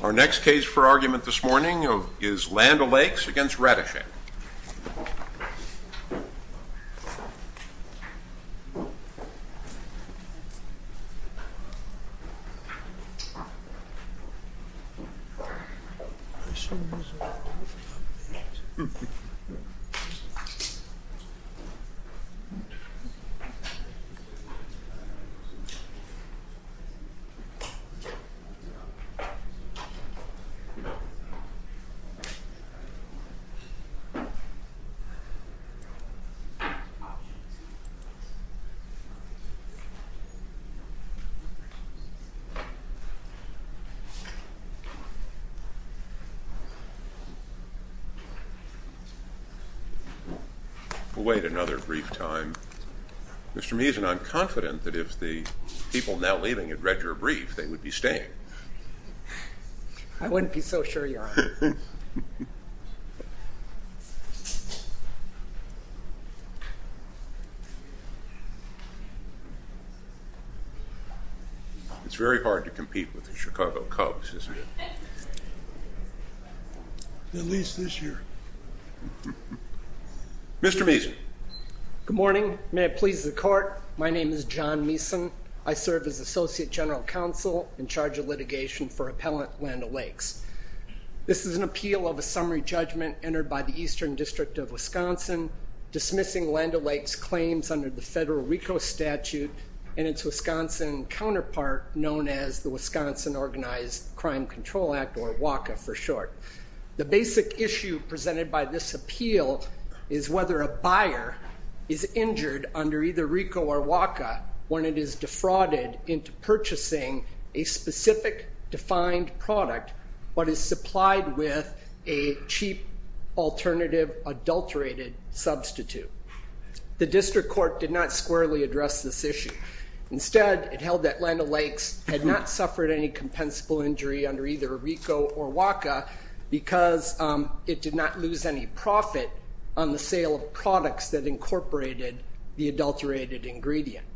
Our next case for argument this morning is Land O'Lakes v. Ratajczak. Mr. Meason, I'm confident that if the people now leaving had read your brief, they would be staying. I wouldn't be so sure, Your Honor. It's very hard to compete with the Chicago Cubs, isn't it? At least this year. Mr. Meason. Good morning. May it please the Court. My name is John Meason. I serve as Associate General Counsel in charge of litigation for Appellant Land O'Lakes. This is an appeal of a summary judgment entered by the Eastern District of Wisconsin dismissing Land O'Lakes' claims under the federal RICO statute and its Wisconsin counterpart, known as the Wisconsin Organized Crime Control Act, or WACA for short. The basic issue presented by this appeal is whether a buyer is injured under either RICO or WACA when it is defrauded into purchasing a specific defined product but is supplied with a cheap alternative adulterated substitute. The district court did not squarely address this issue. Instead, it held that Land O'Lakes had not suffered any compensable injury under either RICO or WACA because it did not lose any profit on the sale of products that incorporated the adulterated ingredient.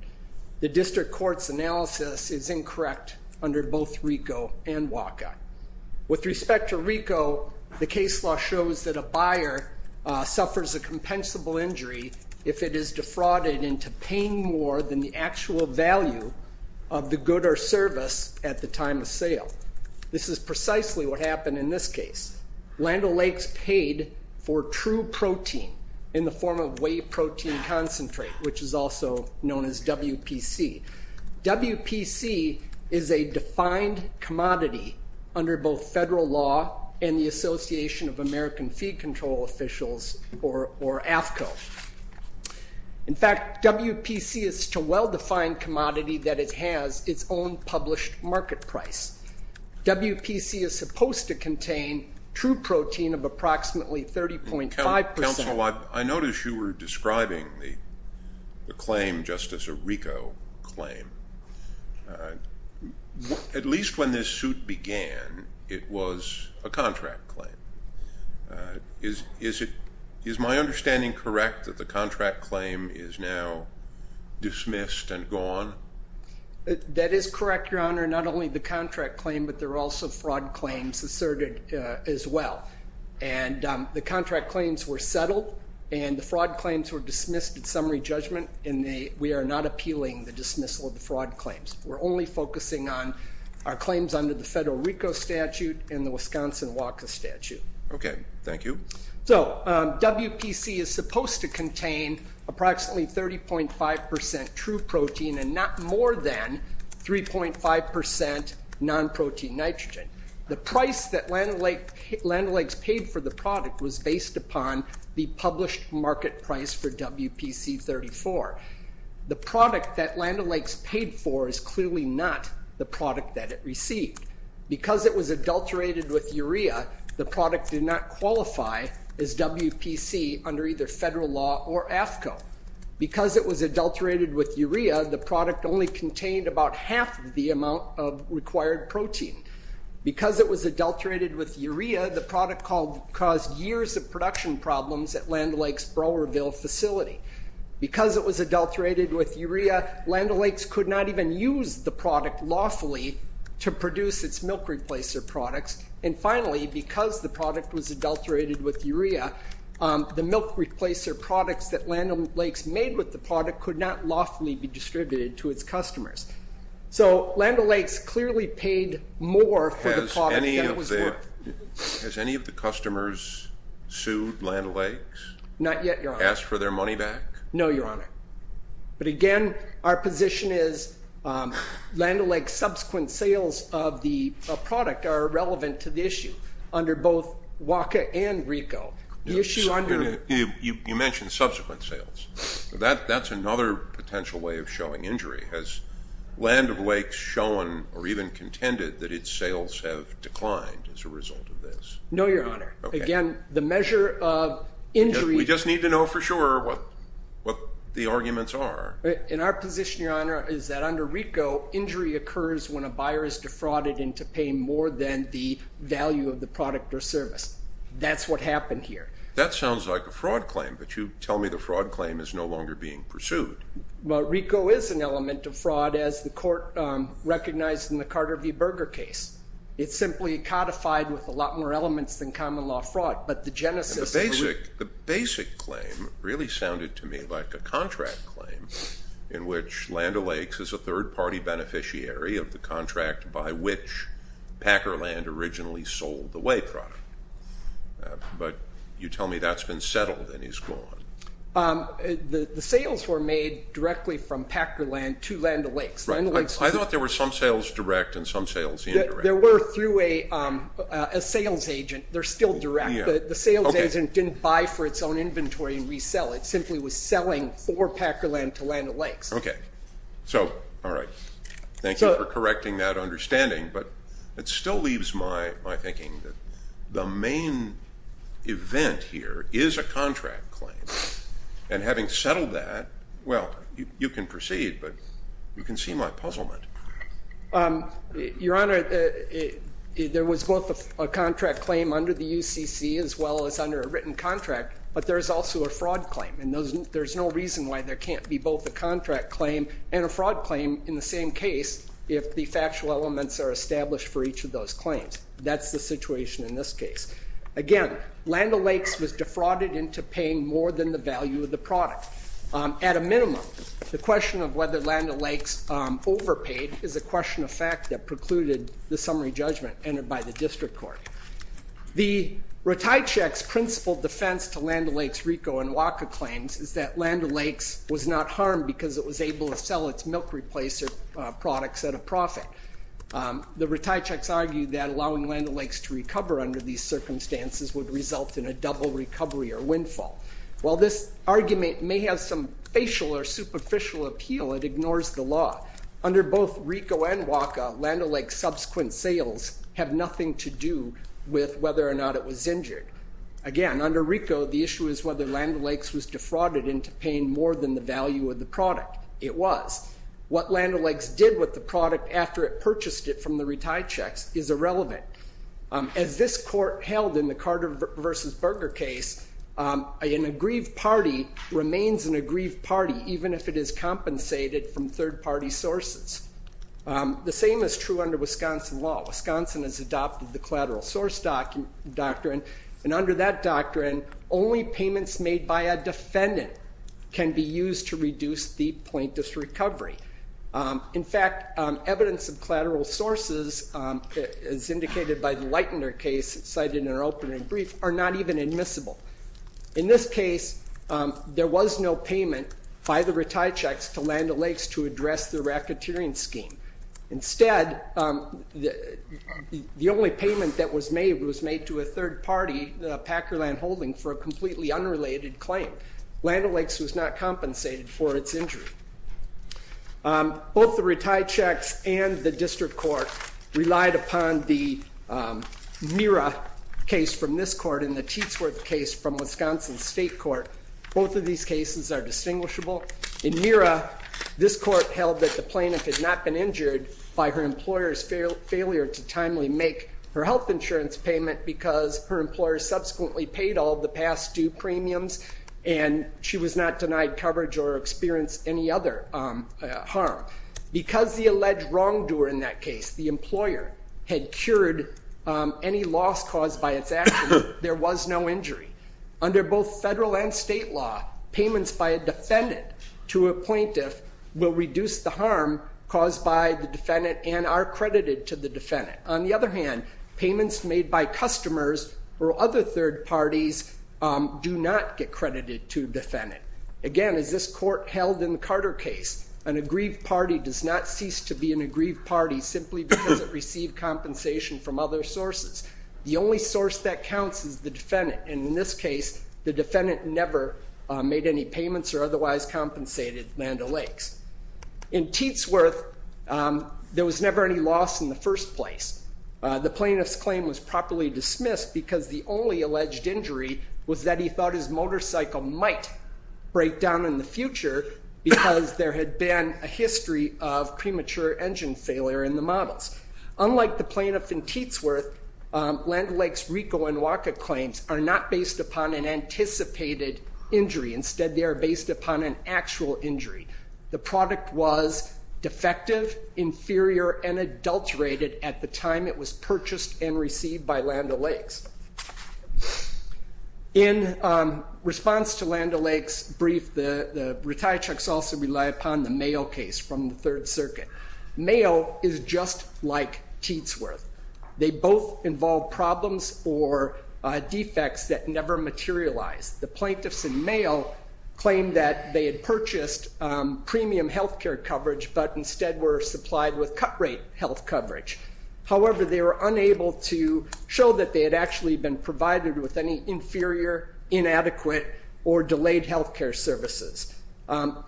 The district court's analysis is incorrect under both RICO and WACA. With respect to RICO, the case law shows that a buyer suffers a compensable injury if it is defrauded into paying more than the actual value of the good or service at the time of sale. This is precisely what happened in this case. Land O'Lakes paid for true protein in the form of whey protein concentrate, which is also known as WPC. WPC is a defined commodity under both federal law and the Association of American Feed Control Officials, or AFCO. In fact, WPC is such a well-defined commodity that it has its own published market price. WPC is supposed to contain true protein of approximately 30.5 percent. Counsel, I noticed you were describing the claim, Justice, a RICO claim. At least when this suit began, it was a contract claim. Is my understanding correct that the contract claim is now dismissed and gone? That is correct, Your Honor. Not only the contract claim, but there are also fraud claims asserted as well. The contract claims were settled, and the fraud claims were dismissed at summary judgment. We are not appealing the dismissal of the fraud claims. We're only focusing on our claims under the federal RICO statute and the Wisconsin WACA statute. Okay. Thank you. So WPC is supposed to contain approximately 30.5 percent true protein and not more than 3.5 percent non-protein nitrogen. The price that Land O'Lakes paid for the product was based upon the published market price for WPC 34. The product that Land O'Lakes paid for is clearly not the product that it received. Because it was adulterated with urea, the product did not qualify as WPC under either federal law or AFCO. Because it was adulterated with urea, the product only contained about half the amount of required protein. Because it was adulterated with urea, the product caused years of production problems at Land O'Lakes' Browerville facility. Because it was adulterated with urea, Land O'Lakes could not even use the product lawfully to produce its milk replacer products. And finally, because the product was adulterated with urea, the milk replacer products that Land O'Lakes made with the product could not lawfully be distributed to its customers. So Land O'Lakes clearly paid more for the product than it was worth. Has any of the customers sued Land O'Lakes? Not yet, Your Honor. Asked for their money back? No, Your Honor. But again, our position is Land O'Lakes' subsequent sales of the product are irrelevant to the issue under both WACA and RICO. You mentioned subsequent sales. That's another potential way of showing injury. Has Land O'Lakes shown or even contended that its sales have declined as a result of this? No, Your Honor. Again, the measure of injury... We just need to know for sure what the arguments are. In our position, Your Honor, is that under RICO, injury occurs when a buyer is defrauded into paying more than the value of the product or service. That's what happened here. That sounds like a fraud claim, but you tell me the fraud claim is no longer being pursued. Well, RICO is an element of fraud as the court recognized in the Carter v. Berger case. It's simply codified with a lot more elements than common law fraud. But the genesis... The basic claim really sounded to me like a contract claim in which Land O'Lakes is a third-party beneficiary of the contract by which Packer Land originally sold the WAC product. But you tell me that's been settled and he's gone. The sales were made directly from Packer Land to Land O'Lakes. I thought there were some sales direct and some sales indirect. There were through a sales agent. They're still direct. The sales agent didn't buy for its own inventory and resell. It simply was selling for Packer Land to Land O'Lakes. Okay. So, all right. Thank you for correcting that understanding. But it still leaves my thinking that the main event here is a contract claim. And having settled that, well, you can proceed, but you can see my puzzlement. Your Honor, there was both a contract claim under the UCC as well as under a written contract, but there's also a fraud claim. There's no reason why there can't be both a contract claim and a fraud claim in the same case if the factual elements are established for each of those claims. That's the situation in this case. Again, Land O'Lakes was defrauded into paying more than the value of the product. At a minimum, the question of whether Land O'Lakes overpaid is a question of fact that precluded the summary judgment entered by the district court. The Retichek's principled defense to Land O'Lakes RICO and WACA claims is that Land O'Lakes was not harmed because it was able to sell its milk replacer products at a profit. The Retichek's argued that allowing Land O'Lakes to recover under these circumstances would result in a double recovery or windfall. While this argument may have some facial or superficial appeal, it ignores the law. Under both RICO and WACA, Land O'Lakes subsequent sales have nothing to do with whether or not it was injured. Again, under RICO, the issue is whether Land O'Lakes was defrauded into paying more than the value of the product. It was. What Land O'Lakes did with the product after it purchased it from the Retichek's is irrelevant. As this court held in the Carter v. Berger case, an aggrieved party remains an aggrieved party even if it is compensated from third-party sources. The same is true under Wisconsin law. Wisconsin has adopted the collateral source doctrine, and under that doctrine, only payments made by a defendant can be used to reduce the plaintiff's recovery. In fact, evidence of collateral sources, as indicated by the Leitner case cited in our opening brief, are not even admissible. In this case, there was no payment by the Retichek's to Land O'Lakes to address the racketeering scheme. Instead, the only payment that was made was made to a third party, the Packer Land Holding, for a completely unrelated claim. Land O'Lakes was not compensated for its injury. Both the Retichek's and the district court relied upon the Mira case from this court and the Teatsworth case from Wisconsin's state court. Both of these cases are distinguishable. In Mira, this court held that the plaintiff had not been injured by her employer's failure to timely make her health insurance payment because her employer subsequently paid all the past due premiums, and she was not denied coverage or experienced any other harm. Because the alleged wrongdoer in that case, the employer, had cured any loss caused by its accident, there was no injury. Under both federal and state law, payments by a defendant to a plaintiff will reduce the harm caused by the defendant and are credited to the defendant. On the other hand, payments made by customers or other third parties do not get credited to a defendant. Again, as this court held in the Carter case, an aggrieved party does not cease to be an aggrieved party simply because it received compensation from other sources. The only source that counts is the defendant, and in this case, the defendant never made any payments or otherwise compensated Land O'Lakes. In Teatsworth, there was never any loss in the first place. The plaintiff's claim was properly dismissed because the only alleged injury was that he thought his motorcycle might break down in the future because there had been a history of premature engine failure in the models. Unlike the plaintiff in Teatsworth, Land O'Lakes RICO and WACA claims are not based upon an actual injury. The product was defective, inferior, and adulterated at the time it was purchased and received by Land O'Lakes. In response to Land O'Lakes' brief, the retiree checks also rely upon the Mayo case from the Third Circuit. Mayo is just like Teatsworth. They both involve problems or defects that never materialize. The plaintiffs in Mayo claim that they had purchased premium health care coverage but instead were supplied with cut rate health coverage. However, they were unable to show that they had actually been provided with any inferior, inadequate, or delayed health care services.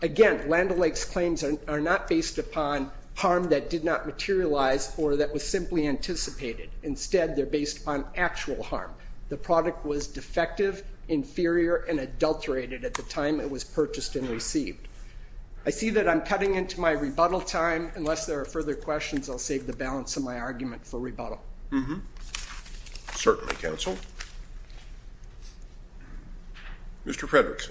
Again, Land O'Lakes claims are not based upon harm that did not materialize or that was simply anticipated. Instead, they're based upon actual harm. The product was defective, inferior, and adulterated at the time it was purchased and received. I see that I'm cutting into my rebuttal time. Unless there are further questions, I'll save the balance of my argument for rebuttal. Certainly, counsel. Mr. Fredrickson.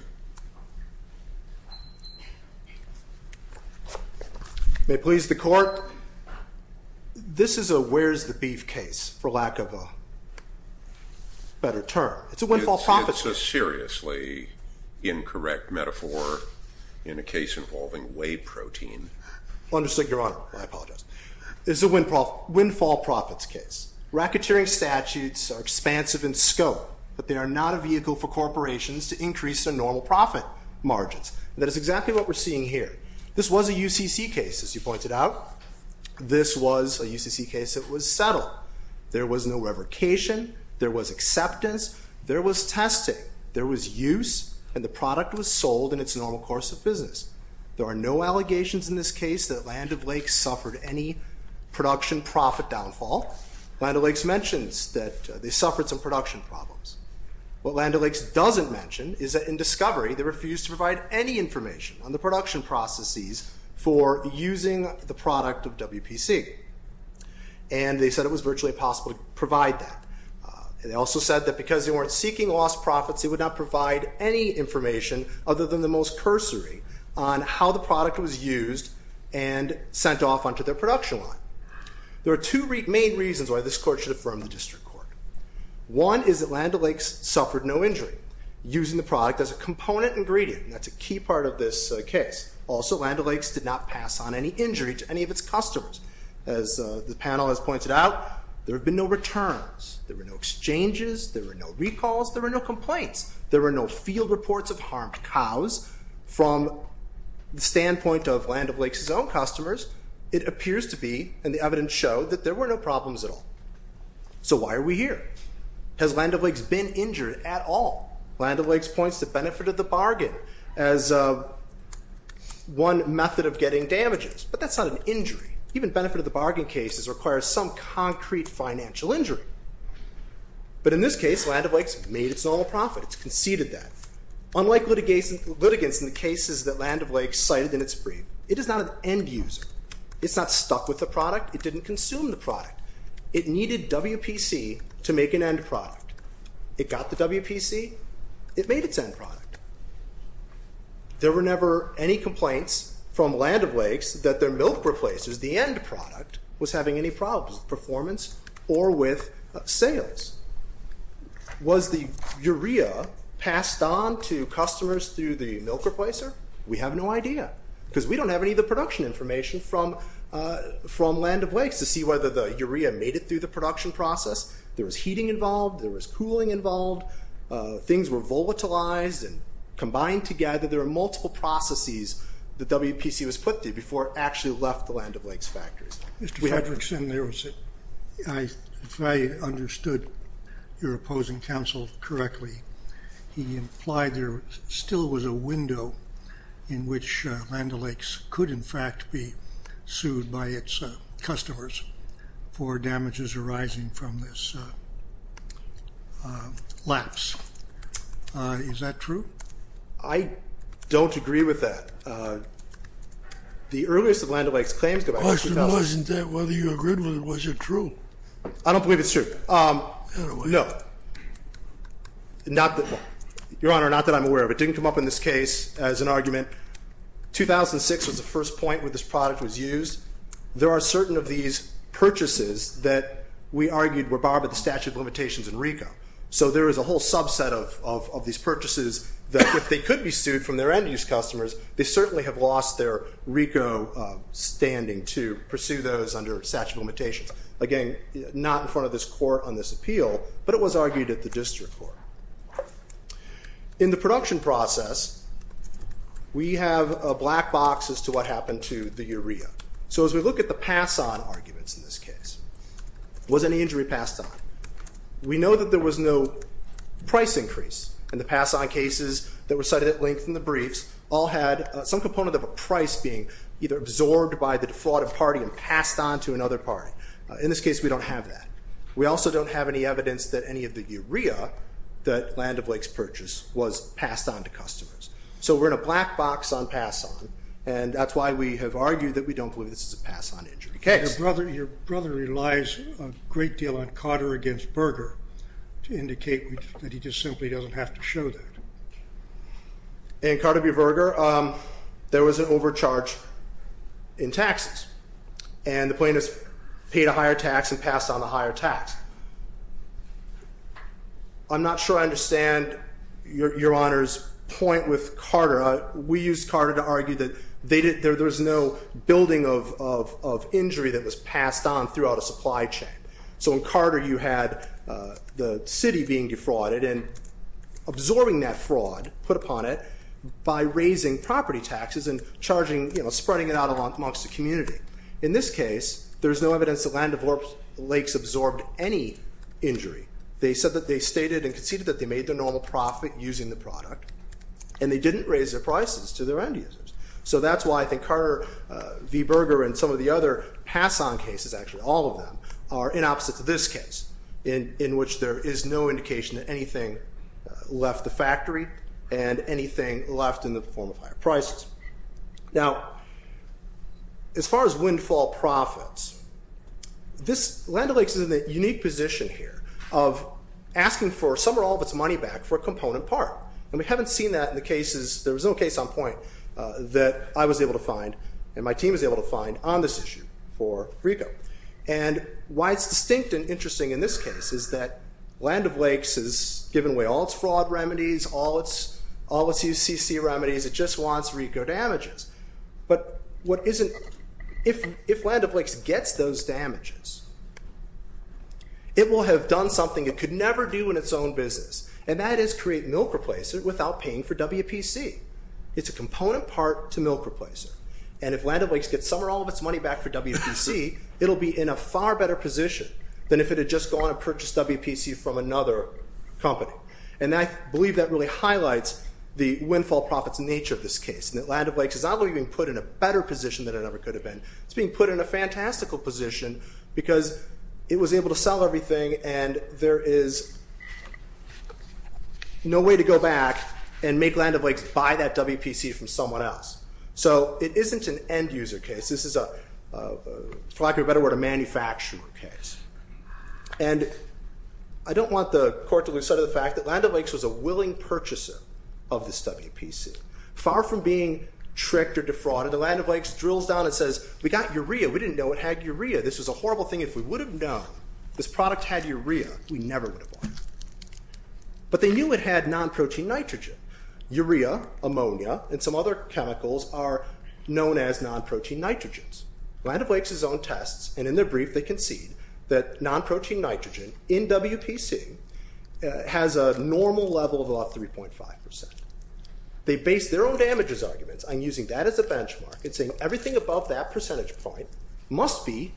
May it please the court. Your Honor, this is a where's the beef case, for lack of a better term. It's a windfall profits case. It's a seriously incorrect metaphor in a case involving whey protein. Understood, Your Honor. I apologize. This is a windfall profits case. Racketeering statutes are expansive in scope, but they are not a vehicle for corporations to increase their normal profit margins. That is exactly what we're seeing here. This was a UCC case, as you pointed out. This was a UCC case that was settled. There was no revocation. There was acceptance. There was testing. There was use, and the product was sold in its normal course of business. There are no allegations in this case that Land O'Lakes suffered any production profit downfall. Land O'Lakes mentions that they suffered some production problems. What Land O'Lakes doesn't mention is that in discovery, they refused to provide any information on the production processes for using the product of WPC, and they said it was virtually impossible to provide that. They also said that because they weren't seeking lost profits, they would not provide any information other than the most cursory on how the product was used and sent off onto their production line. There are two main reasons why this court should affirm the district court. One is that Land O'Lakes suffered no injury using the product as a component ingredient. That's a key part of this case. Also Land O'Lakes did not pass on any injury to any of its customers. As the panel has pointed out, there have been no returns. There were no exchanges. There were no recalls. There were no complaints. There were no field reports of harmed cows. From the standpoint of Land O'Lakes' own customers, it appears to be, and the evidence showed, that there were no problems at all. So why are we here? Has Land O'Lakes been injured at all? Land O'Lakes points to benefit of the bargain as one method of getting damages, but that's not an injury. Even benefit of the bargain cases require some concrete financial injury. But in this case, Land O'Lakes made its own profit. It's conceded that. Unlike litigants in the cases that Land O'Lakes cited in its brief, it is not an end user. It's not stuck with the product. It didn't consume the product. It needed WPC to make an end product. It got the WPC. It made its end product. There were never any complaints from Land O'Lakes that their milk replacers, the end product, was having any problems with performance or with sales. Was the urea passed on to customers through the milk replacer? We have no idea. Because we don't have any of the production information from Land O'Lakes to see whether the urea made it through the production process. There was heating involved. There was cooling involved. Things were volatilized and combined together. There were multiple processes that WPC was put through before it actually left the Land O'Lakes factories. Mr. Fredrickson, if I understood your opposing counsel correctly, he implied there still was a window in which Land O'Lakes could, in fact, be sued by its customers for damages arising from this lapse. Is that true? I don't agree with that. The earliest of Land O'Lakes' claims go back to 2000— The question wasn't that whether you agreed with it. Was it true? I don't believe it's true. No. Your Honor, not that I'm aware of. It didn't come up in this case as an argument. 2006 was the first point where this product was used. There are certain of these purchases that we argued were barred by the statute of limitations in RICO. So there is a whole subset of these purchases that if they could be sued from their end-use customers, they certainly have lost their RICO standing to pursue those under statute of limitations. Again, not in front of this Court on this appeal, but it was argued at the district court. In the production process, we have a black box as to what happened to the urea. So as we look at the pass-on arguments in this case, was any injury passed on? We know that there was no price increase in the pass-on cases that were cited at length in the briefs, all had some component of a price being either absorbed by the defrauded party and passed on to another party. In this case, we don't have that. We also don't have any evidence that any of the urea that Land of Lakes purchased was passed on to customers. So we're in a black box on pass-on, and that's why we have argued that we don't believe this is a pass-on injury case. Your brother relies a great deal on Carter v. Berger to indicate that he just simply doesn't have to show that. In Carter v. Berger, there was an overcharge in taxes, and the plaintiffs paid a higher tax. I'm not sure I understand Your Honor's point with Carter. We used Carter to argue that there was no building of injury that was passed on throughout a supply chain. So in Carter, you had the city being defrauded and absorbing that fraud put upon it by raising property taxes and spreading it out amongst the community. In this case, there's no evidence that Land of Lakes absorbed any injury. They said that they stated and conceded that they made their normal profit using the product, and they didn't raise their prices to their end users. So that's why I think Carter v. Berger and some of the other pass-on cases, actually all of them, are in opposite to this case, in which there is no indication that anything left the factory and anything left in the form of higher prices. Now, as far as windfall profits, Land of Lakes is in a unique position here of asking for some or all of its money back for a component part. And we haven't seen that in the cases, there was no case on point, that I was able to find and my team was able to find on this issue for RICO. And why it's distinct and interesting in this case is that Land of Lakes has given away all its fraud remedies, all its UCC remedies. It just wants RICO damages. But if Land of Lakes gets those damages, it will have done something it could never do in its own business, and that is create milk replacer without paying for WPC. It's a component part to milk replacer. And if Land of Lakes gets some or all of its money back for WPC, it'll be in a far better position than if it had just gone and purchased WPC from another company. And I believe that really highlights the windfall profits nature of this case, and that Land of Lakes is not only being put in a better position than it ever could have been, it's being put in a fantastical position because it was able to sell everything and there is no way to go back and make Land of Lakes buy that WPC from someone else. So it isn't an end user case, this is a, for lack of a better word, a manufacturer case. And I don't want the court to lose sight of the fact that Land of Lakes was a willing purchaser of this WPC. Far from being tricked or defrauded, the Land of Lakes drills down and says, we got urea. We didn't know it had urea. This was a horrible thing. If we would have known this product had urea, we never would have bought it. But they knew it had non-protein nitrogen, urea, ammonia, and some other chemicals are known as non-protein nitrogens. Land of Lakes has its own tests and in their brief they concede that non-protein nitrogen in WPC has a normal level of about 3.5%. They base their own damages arguments on using that as a benchmark and saying everything above that percentage point must be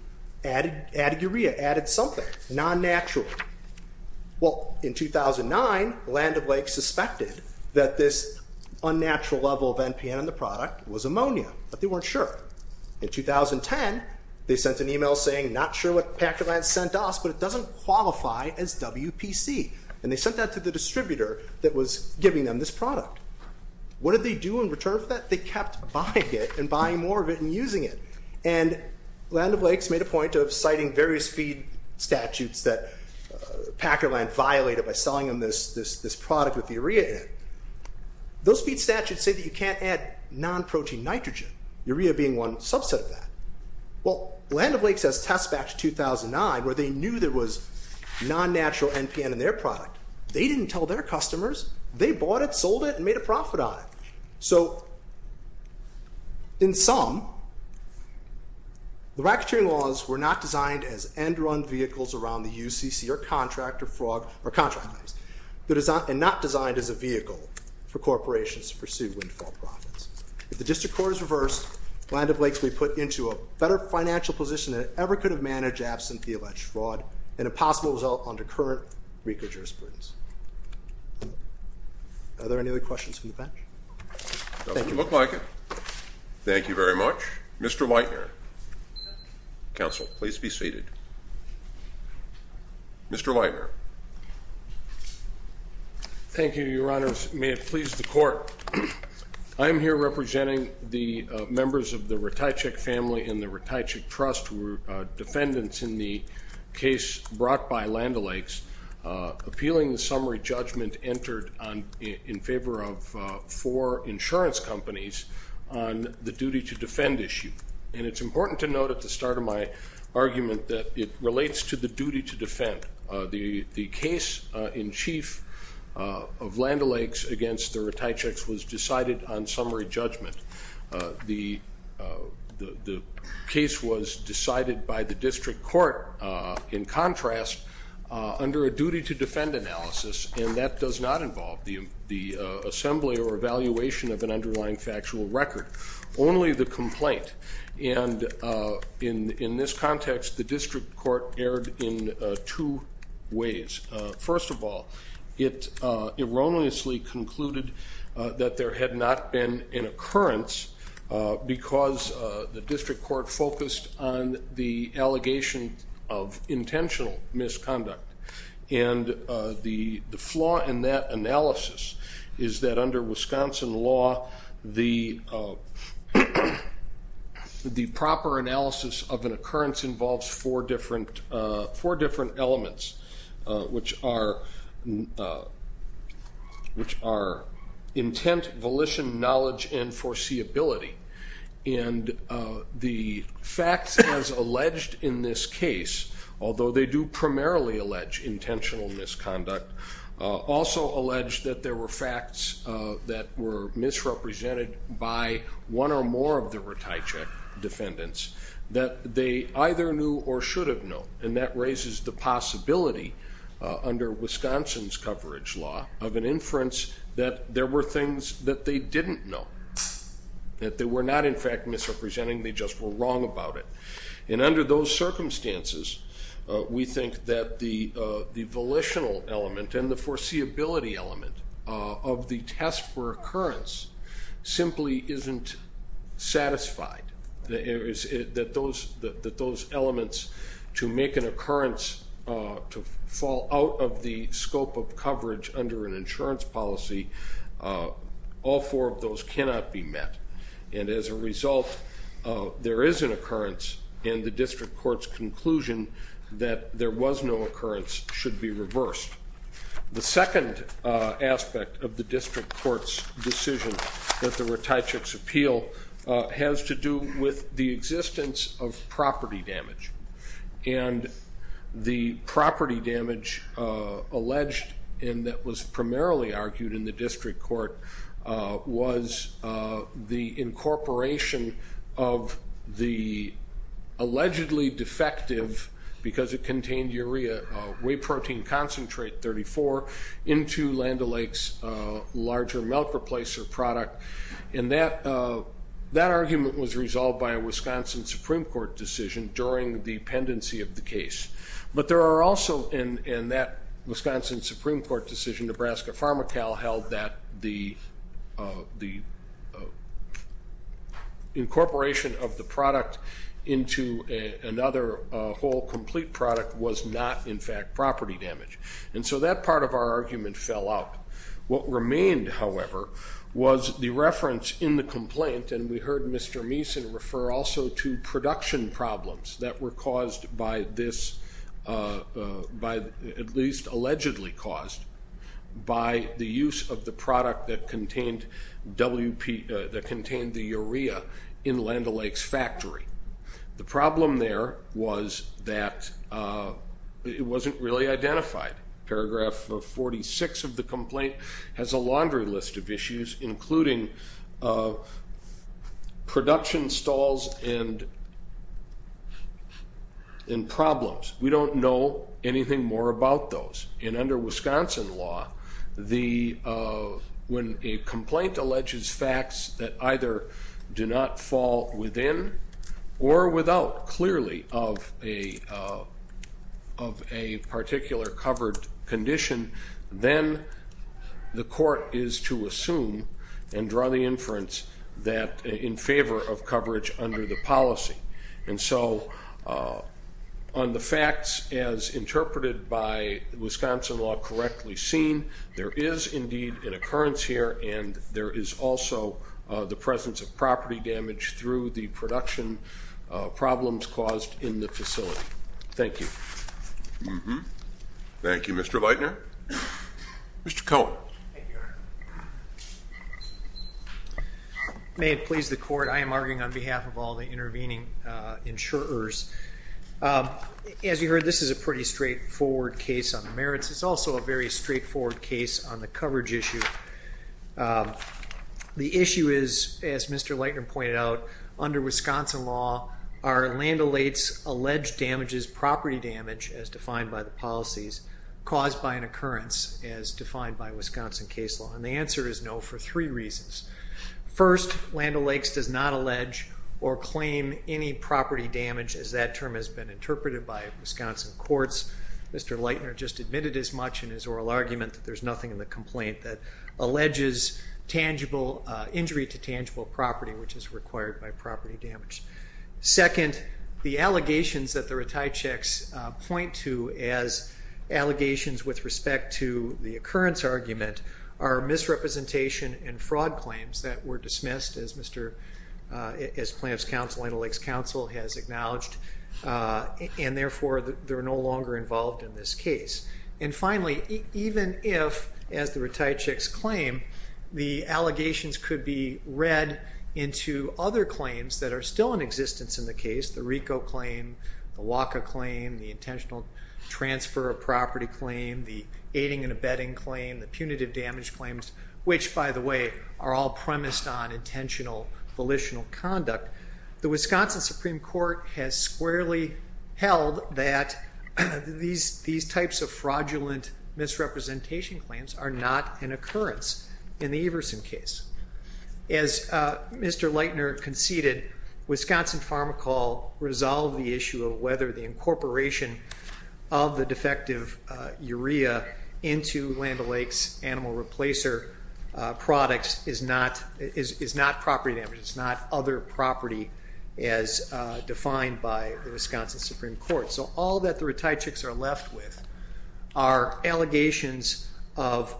added urea, added something, non-natural. Well in 2009, Land of Lakes suspected that this unnatural level of NPN in the product was ammonia, but they weren't sure. In 2010, they sent an email saying, not sure what Packer Land sent us, but it doesn't qualify as WPC. And they sent that to the distributor that was giving them this product. What did they do in return for that? They kept buying it and buying more of it and using it. And Land of Lakes made a point of citing various feed statutes that Packer Land violated by selling them this product with urea in it. Those feed statutes say that you can't add non-protein nitrogen, urea being one subset of that. Well, Land of Lakes has tests back to 2009 where they knew there was non-natural NPN in their product. They didn't tell their customers. They bought it, sold it, and made a profit on it. So in sum, the racketeering laws were not designed as end-run vehicles around the UCC or contract, and not designed as a vehicle for corporations to pursue windfall profits. If the district court is reversed, Land of Lakes will be put into a better financial position than it ever could have managed absent the alleged fraud, and a possible result under current RICO jurisprudence. Are there any other questions from the bench? Thank you. It doesn't look like it. Thank you very much. Mr. Whitener. Counsel, please be seated. Mr. Whitener. Thank you, Your Honors. May it please the Court. I am here representing the members of the Ratajkic family and the Ratajkic Trust, who were defendants in the case brought by Land of Lakes, appealing the summary judgment entered in favor of four insurance companies on the duty-to-defend issue. And it's important to note at the start of my argument that it relates to the duty-to-defend. The case in chief of Land of Lakes against the Ratajkics was decided on summary judgment. The case was decided by the district court, in contrast, under a duty-to-defend analysis, and that does not involve the assembly or evaluation of an underlying factual record. Only the complaint. And in this context, the district court erred in two ways. First of all, it erroneously concluded that there had not been an occurrence because the district court focused on the allegation of intentional misconduct. And the flaw in that analysis is that under Wisconsin law, the proper analysis of an occurrence involves four different elements, which are intent, volition, knowledge, and foreseeability. And the facts as alleged in this case, although they do primarily allege intentional misconduct, also allege that there were facts that were misrepresented by one or more of the Ratajkic defendants that they either knew or should have known. And that raises the possibility, under Wisconsin's coverage law, of an inference that there were facts that they didn't know, that they were not, in fact, misrepresenting, they just were wrong about it. And under those circumstances, we think that the volitional element and the foreseeability element of the test for occurrence simply isn't satisfied, that those elements to make an occurrence to fall out of the scope of coverage under an insurance policy, all four of those cannot be met. And as a result, there is an occurrence, and the district court's conclusion that there was no occurrence should be reversed. The second aspect of the district court's decision that the Ratajkic's appeal has to do with the existence of property damage. And the property damage alleged and that was primarily argued in the district court was the incorporation of the allegedly defective, because it contained urea, whey protein concentrate 34 into Land O'Lakes' larger milk replacer product. And that argument was resolved by a Wisconsin Supreme Court decision during the pendency of the case. But there are also, in that Wisconsin Supreme Court decision, Nebraska Pharmacal held that the incorporation of the product into another whole complete product was not, in fact, property damage. And so that part of our argument fell out. What remained, however, was the reference in the complaint, and we heard Mr. Meason refer also to production problems that were caused by this, at least allegedly caused by the use of the product that contained the urea in Land O'Lakes' factory. The problem there was that it wasn't really identified. Paragraph 46 of the complaint has a laundry list of issues, including production stalls and problems. We don't know anything more about those. And under Wisconsin law, when a complaint alleges facts that either do not fall within or without clearly of a particular covered condition, then the court is to assume and draw the inference that in favor of coverage under the policy. And so on the facts as interpreted by Wisconsin law correctly seen, there is indeed an occurrence here, and there is also the presence of property damage through the production problems caused in the facility. Thank you. Thank you, Mr. Leitner. Mr. Cohen. May it please the court. I am arguing on behalf of all the intervening insurers. As you heard, this is a pretty straightforward case on the merits. It's also a very straightforward case on the coverage issue. The issue is, as Mr. Leitner pointed out, under Wisconsin law, are Land O'Lakes alleged damages property damage as defined by the policies caused by an occurrence as defined by Wisconsin case law? And the answer is no for three reasons. First, Land O'Lakes does not allege or claim any property damage as that term has been interpreted by Wisconsin courts. Mr. Leitner just admitted as much in his oral argument that there's nothing in the complaint that alleges tangible injury to tangible property, which is required by property damage. Second, the allegations that the retai checks point to as allegations with respect to the occurrence argument are misrepresentation and fraud claims that were dismissed as Mr. as plaintiff's counsel, Land O'Lakes counsel has acknowledged. And therefore, they're no longer involved in this case. And finally, even if, as the retai checks claim, the allegations could be read into other claims that are still in existence in the case, the RICO claim, the WACA claim, the intentional transfer of property claim, the aiding and abetting claim, the punitive volitional conduct, the Wisconsin Supreme Court has squarely held that these types of fraudulent misrepresentation claims are not an occurrence in the Everson case. As Mr. Leitner conceded, Wisconsin Pharmacol resolved the issue of whether the incorporation of the defective urea into Land O'Lakes animal replacer products is not property damage. It's not other property as defined by the Wisconsin Supreme Court. So all that the retai checks are left with are allegations of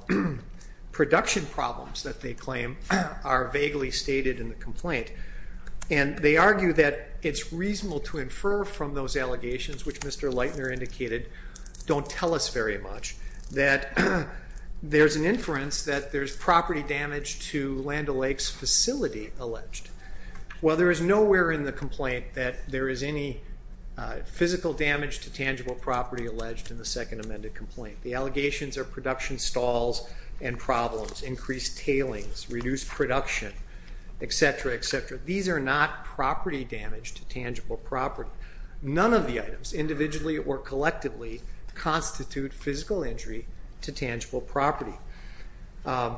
production problems that they claim are vaguely stated in the complaint. And they argue that it's reasonable to infer from those allegations, which Mr. Leitner indicated don't tell us very much, that there's an inference that there's property damage to Land O'Lakes facility alleged. While there is nowhere in the complaint that there is any physical damage to tangible property alleged in the second amended complaint. The allegations are production stalls and problems, increased tailings, reduced production, etc., etc. These are not property damage to tangible property. None of the items individually or collectively constitute physical injury to tangible property. And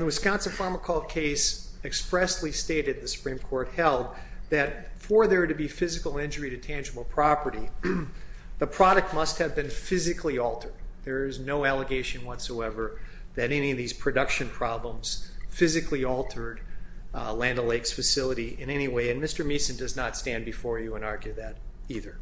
the Wisconsin Pharmacol case expressly stated, the Supreme Court held, that for there to be physical injury to tangible property, the product must have been physically altered. There is no allegation whatsoever that any of these production problems physically altered Land O'Lakes facility in any way. And Mr. Meason does not stand before you and argue that either.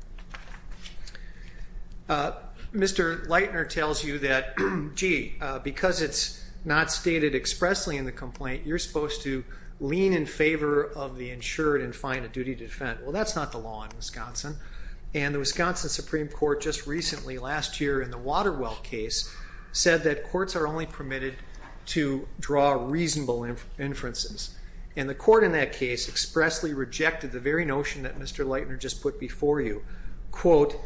Mr. Leitner tells you that, gee, because it's not stated expressly in the complaint, you're supposed to lean in favor of the insured and find a duty to defend. Well, that's not the law in Wisconsin. And the Wisconsin Supreme Court just recently, last year in the Waterwell case, said that And the court in that case expressly rejected the very notion that Mr. Leitner just put before you, quote,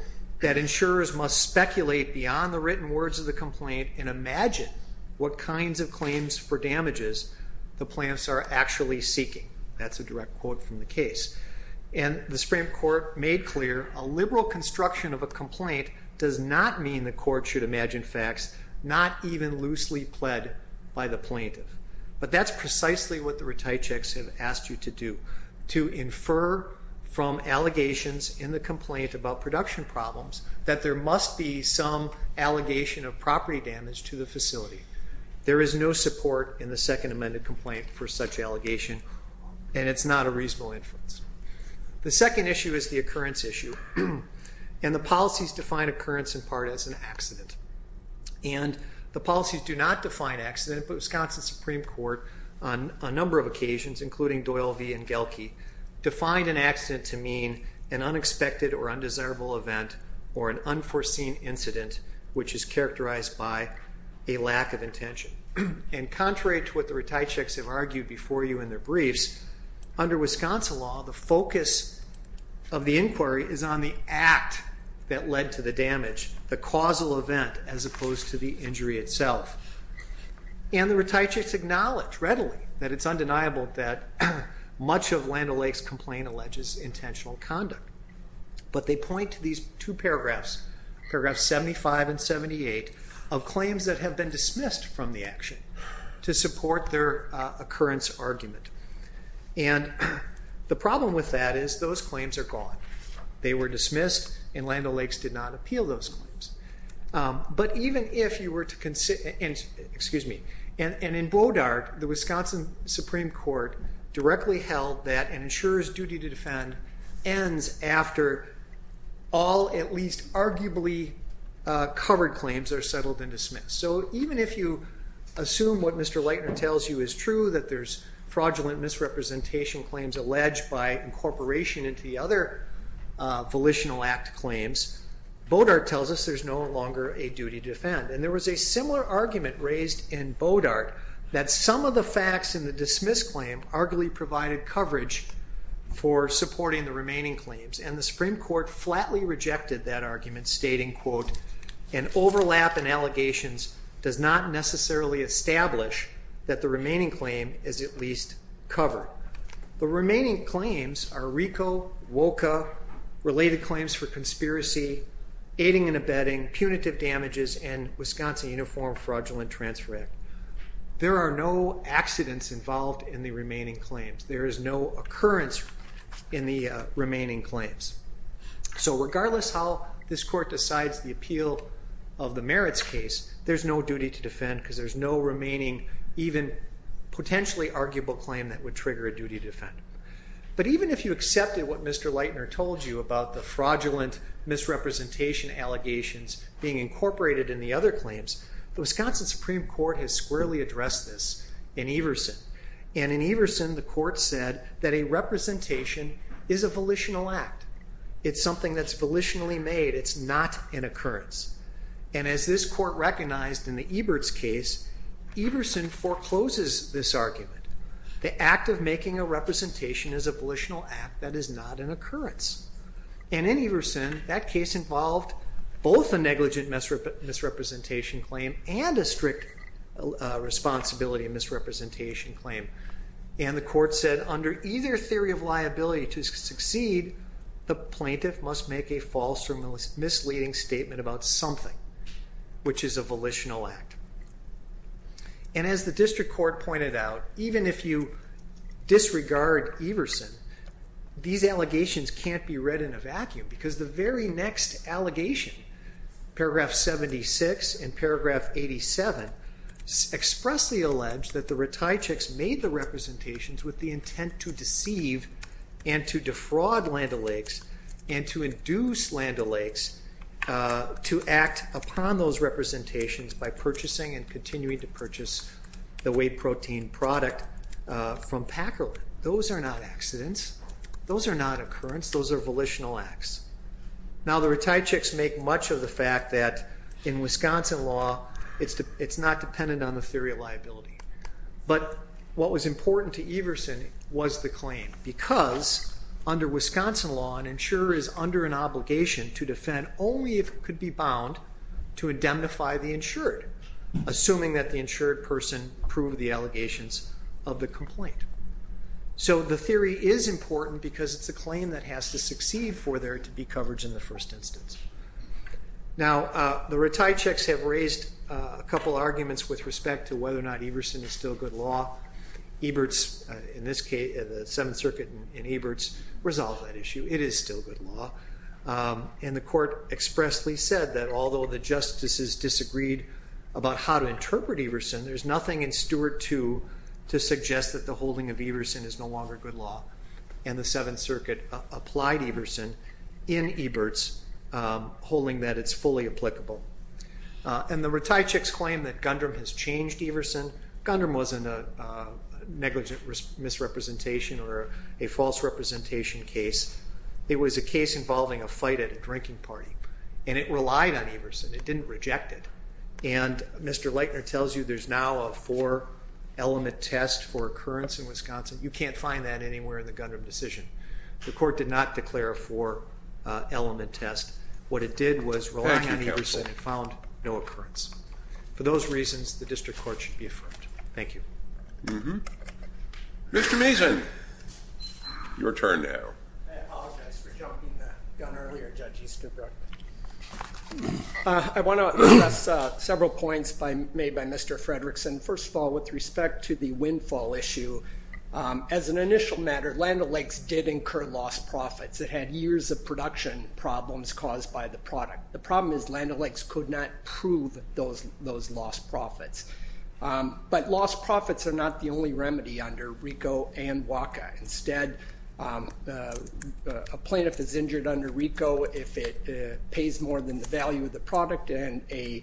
that insurers must speculate beyond the written words of the complaint and imagine what kinds of claims for damages the plants are actually seeking. That's a direct quote from the case. And the Supreme Court made clear a liberal construction of a complaint does not mean the court should imagine facts not even loosely pled by the plaintiff. But that's precisely what the retai checks have asked you to do, to infer from allegations in the complaint about production problems that there must be some allegation of property damage to the facility. There is no support in the second amended complaint for such allegation. And it's not a reasonable inference. The second issue is the occurrence issue. And the policies define occurrence in part as an accident. And the policies do not define accident, but Wisconsin Supreme Court on a number of occasions, including Doyle v. Engelke, defined an accident to mean an unexpected or undesirable event or an unforeseen incident, which is characterized by a lack of intention. And contrary to what the retai checks have argued before you in their briefs, under Wisconsin law, the focus of the inquiry is on the act that led to the damage, the causal event, as opposed to the injury itself. And the retai checks acknowledge readily that it's undeniable that much of Land O'Lakes complaint alleges intentional conduct. But they point to these two paragraphs, paragraphs 75 and 78, of claims that have been dismissed from the action to support their occurrence argument. And the problem with that is those claims are gone. They were dismissed, and Land O'Lakes did not appeal those claims. But even if you were to, excuse me, and in Bodart, the Wisconsin Supreme Court directly held that an insurer's duty to defend ends after all at least arguably covered claims are settled and dismissed. So even if you assume what Mr. Leitner tells you is true, that there's fraudulent misrepresentation claims alleged by incorporation into the other volitional act claims, Bodart tells us there's no longer a duty to defend. And there was a similar argument raised in Bodart that some of the facts in the dismissed claim arguably provided coverage for supporting the remaining claims. And the Supreme Court flatly rejected that argument, stating, quote, an overlap in allegations does not necessarily establish that the remaining claim is at least covered. The remaining claims are RICO, WOCA, related claims for conspiracy, aiding and abetting, punitive damages, and Wisconsin Uniform Fraudulent Transfer Act. There are no accidents involved in the remaining claims. There is no occurrence in the remaining claims. So regardless how this court decides the appeal of the merits case, there's no duty to defend because there's no remaining even potentially arguable claim that would trigger a duty to defend. But even if you accepted what Mr. Leitner told you about the fraudulent misrepresentation allegations being incorporated in the other claims, the Wisconsin Supreme Court has squarely addressed this in Everson. And in Everson, the court said that a representation is a volitional act. It's something that's volitionally made. It's not an occurrence. And as this court recognized in the Ebert's case, Everson forecloses this argument. The act of making a representation is a volitional act that is not an occurrence. And in Everson, that case involved both a negligent misrepresentation claim and a strict responsibility misrepresentation claim. And the court said under either theory of liability to succeed, the plaintiff must make a false or misleading statement about something which is a volitional act. And as the district court pointed out, even if you disregard Everson, these allegations can't be read in a vacuum because the very next allegation, paragraph 76 and paragraph 87 expressly allege that the Reticics made the representations with the intent to deceive and to defraud Land O'Lakes and to induce Land O'Lakes to act upon those representations by purchasing and continuing to purchase the whey protein product from Packer. Those are not accidents. Those are not occurrence. Those are volitional acts. Now, the Reticics make much of the fact that in Wisconsin law, it's not dependent on the theory of liability. But what was important to Everson was the claim because under Wisconsin law, an insurer is under an obligation to defend only if it could be bound to indemnify the insured, assuming that the insured person proved the allegations of the complaint. So the theory is important because it's a claim that has to succeed for there to be coverage in the first instance. Now, the Reticics have raised a couple arguments with respect to whether or not Everson is still good law. Ebert's, in this case, the Seventh Circuit in Ebert's resolved that issue. It is still good law. And the court expressly said that although the justices disagreed about how to interpret Everson, there's nothing in Stewart 2 to suggest that the holding of Everson is no longer good law. And the Seventh Circuit applied Everson in Ebert's holding that it's fully applicable. And the Reticics claim that Gundram has changed Everson. Gundram wasn't a negligent misrepresentation or a false representation case. It was a case involving a fight at a drinking party. And it relied on Everson. It didn't reject it. And Mr. Leitner tells you there's now a four-element test for occurrence in Wisconsin. You can't find that anywhere in the Gundram decision. The court did not declare a four-element test. What it did was rely on Everson and found no occurrence. For those reasons, the district court should be affirmed. Thank you. Mr. Mason, your turn now. I apologize for jumping the gun earlier, Judge Easterbrook. I want to address several points made by Mr. Fredrickson. First of all, with respect to the windfall issue, as an initial matter, Land O'Lakes did incur lost profits. It had years of production problems caused by the product. The problem is Land O'Lakes could not prove those lost profits. But lost profits are not the only remedy under RICO and WACA. Instead, a plaintiff is injured under RICO if it pays more than the value of the product, and a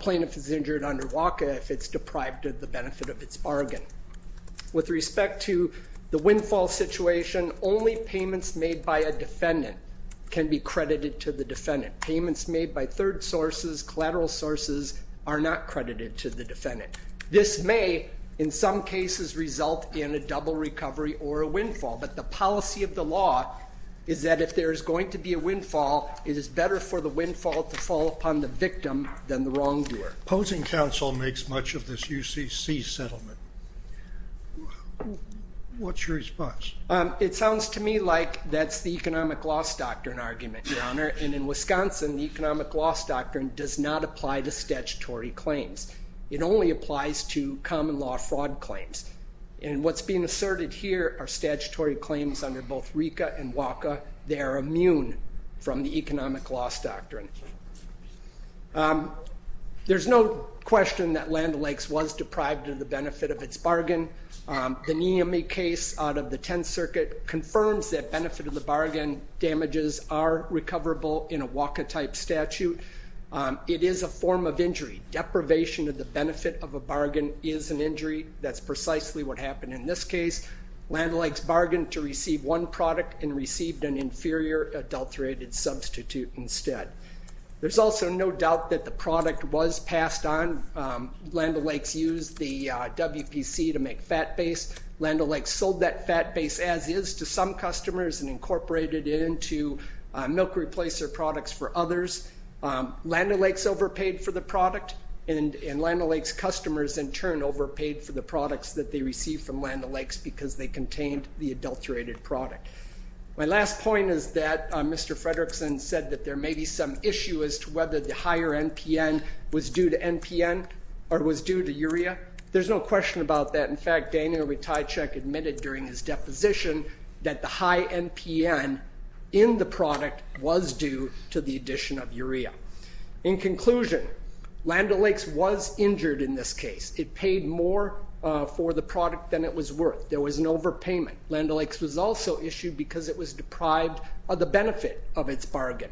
plaintiff is injured under WACA if it's deprived of the benefit of its bargain. With respect to the windfall situation, only payments made by a defendant can be credited to the defendant. Payments made by third sources, collateral sources, are not credited to the defendant. This may, in some cases, result in a double recovery or a windfall. But the policy of the law is that if there is going to be a windfall, it is better for the windfall to fall upon the victim than the wrongdoer. Opposing counsel makes much of this UCC settlement. What's your response? It sounds to me like that's the economic loss doctrine argument, Your Honor. And in Wisconsin, the economic loss doctrine does not apply to statutory claims. It only applies to common law fraud claims. And what's being asserted here are statutory claims under both RICO and WACA. They are immune from the economic loss doctrine. There's no question that Land O'Lakes was deprived of the benefit of its bargain. The Nehemi case out of the 10th Circuit confirms that benefit of the bargain damages are recoverable in a WACA-type statute. It is a form of injury. Deprivation of the benefit of a bargain is an injury. That's precisely what happened in this case. Land O'Lakes bargained to receive one product and received an inferior adulterated substitute instead. There's also no doubt that the product was passed on. Land O'Lakes used the WPC to make fat base. Land O'Lakes sold that fat base as is to some customers and incorporated it into milk replacer products for others. Land O'Lakes overpaid for the product and Land O'Lakes customers in turn overpaid for the products that they received from Land O'Lakes because they contained the adulterated product. My last point is that Mr. Fredrickson said that there may be some issue as to whether the higher NPN was due to NPN or was due to urea. There's no question about that. In fact, Daniel Rytajczyk admitted during his deposition In conclusion, Land O'Lakes was injured in this case. It paid more for the product than it was worth. There was an overpayment. Land O'Lakes was also issued because it was deprived of the benefit of its bargain.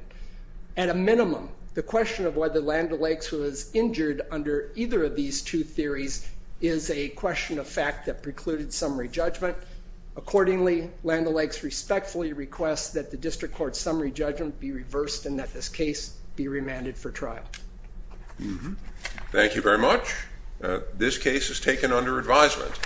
At a minimum, the question of whether Land O'Lakes was injured under either of these two theories is a question of fact that precluded summary judgment. Accordingly, Land O'Lakes respectfully requests that the district court's be reversed and that this case be remanded for trial. Thank you very much. This case is taken under advisement.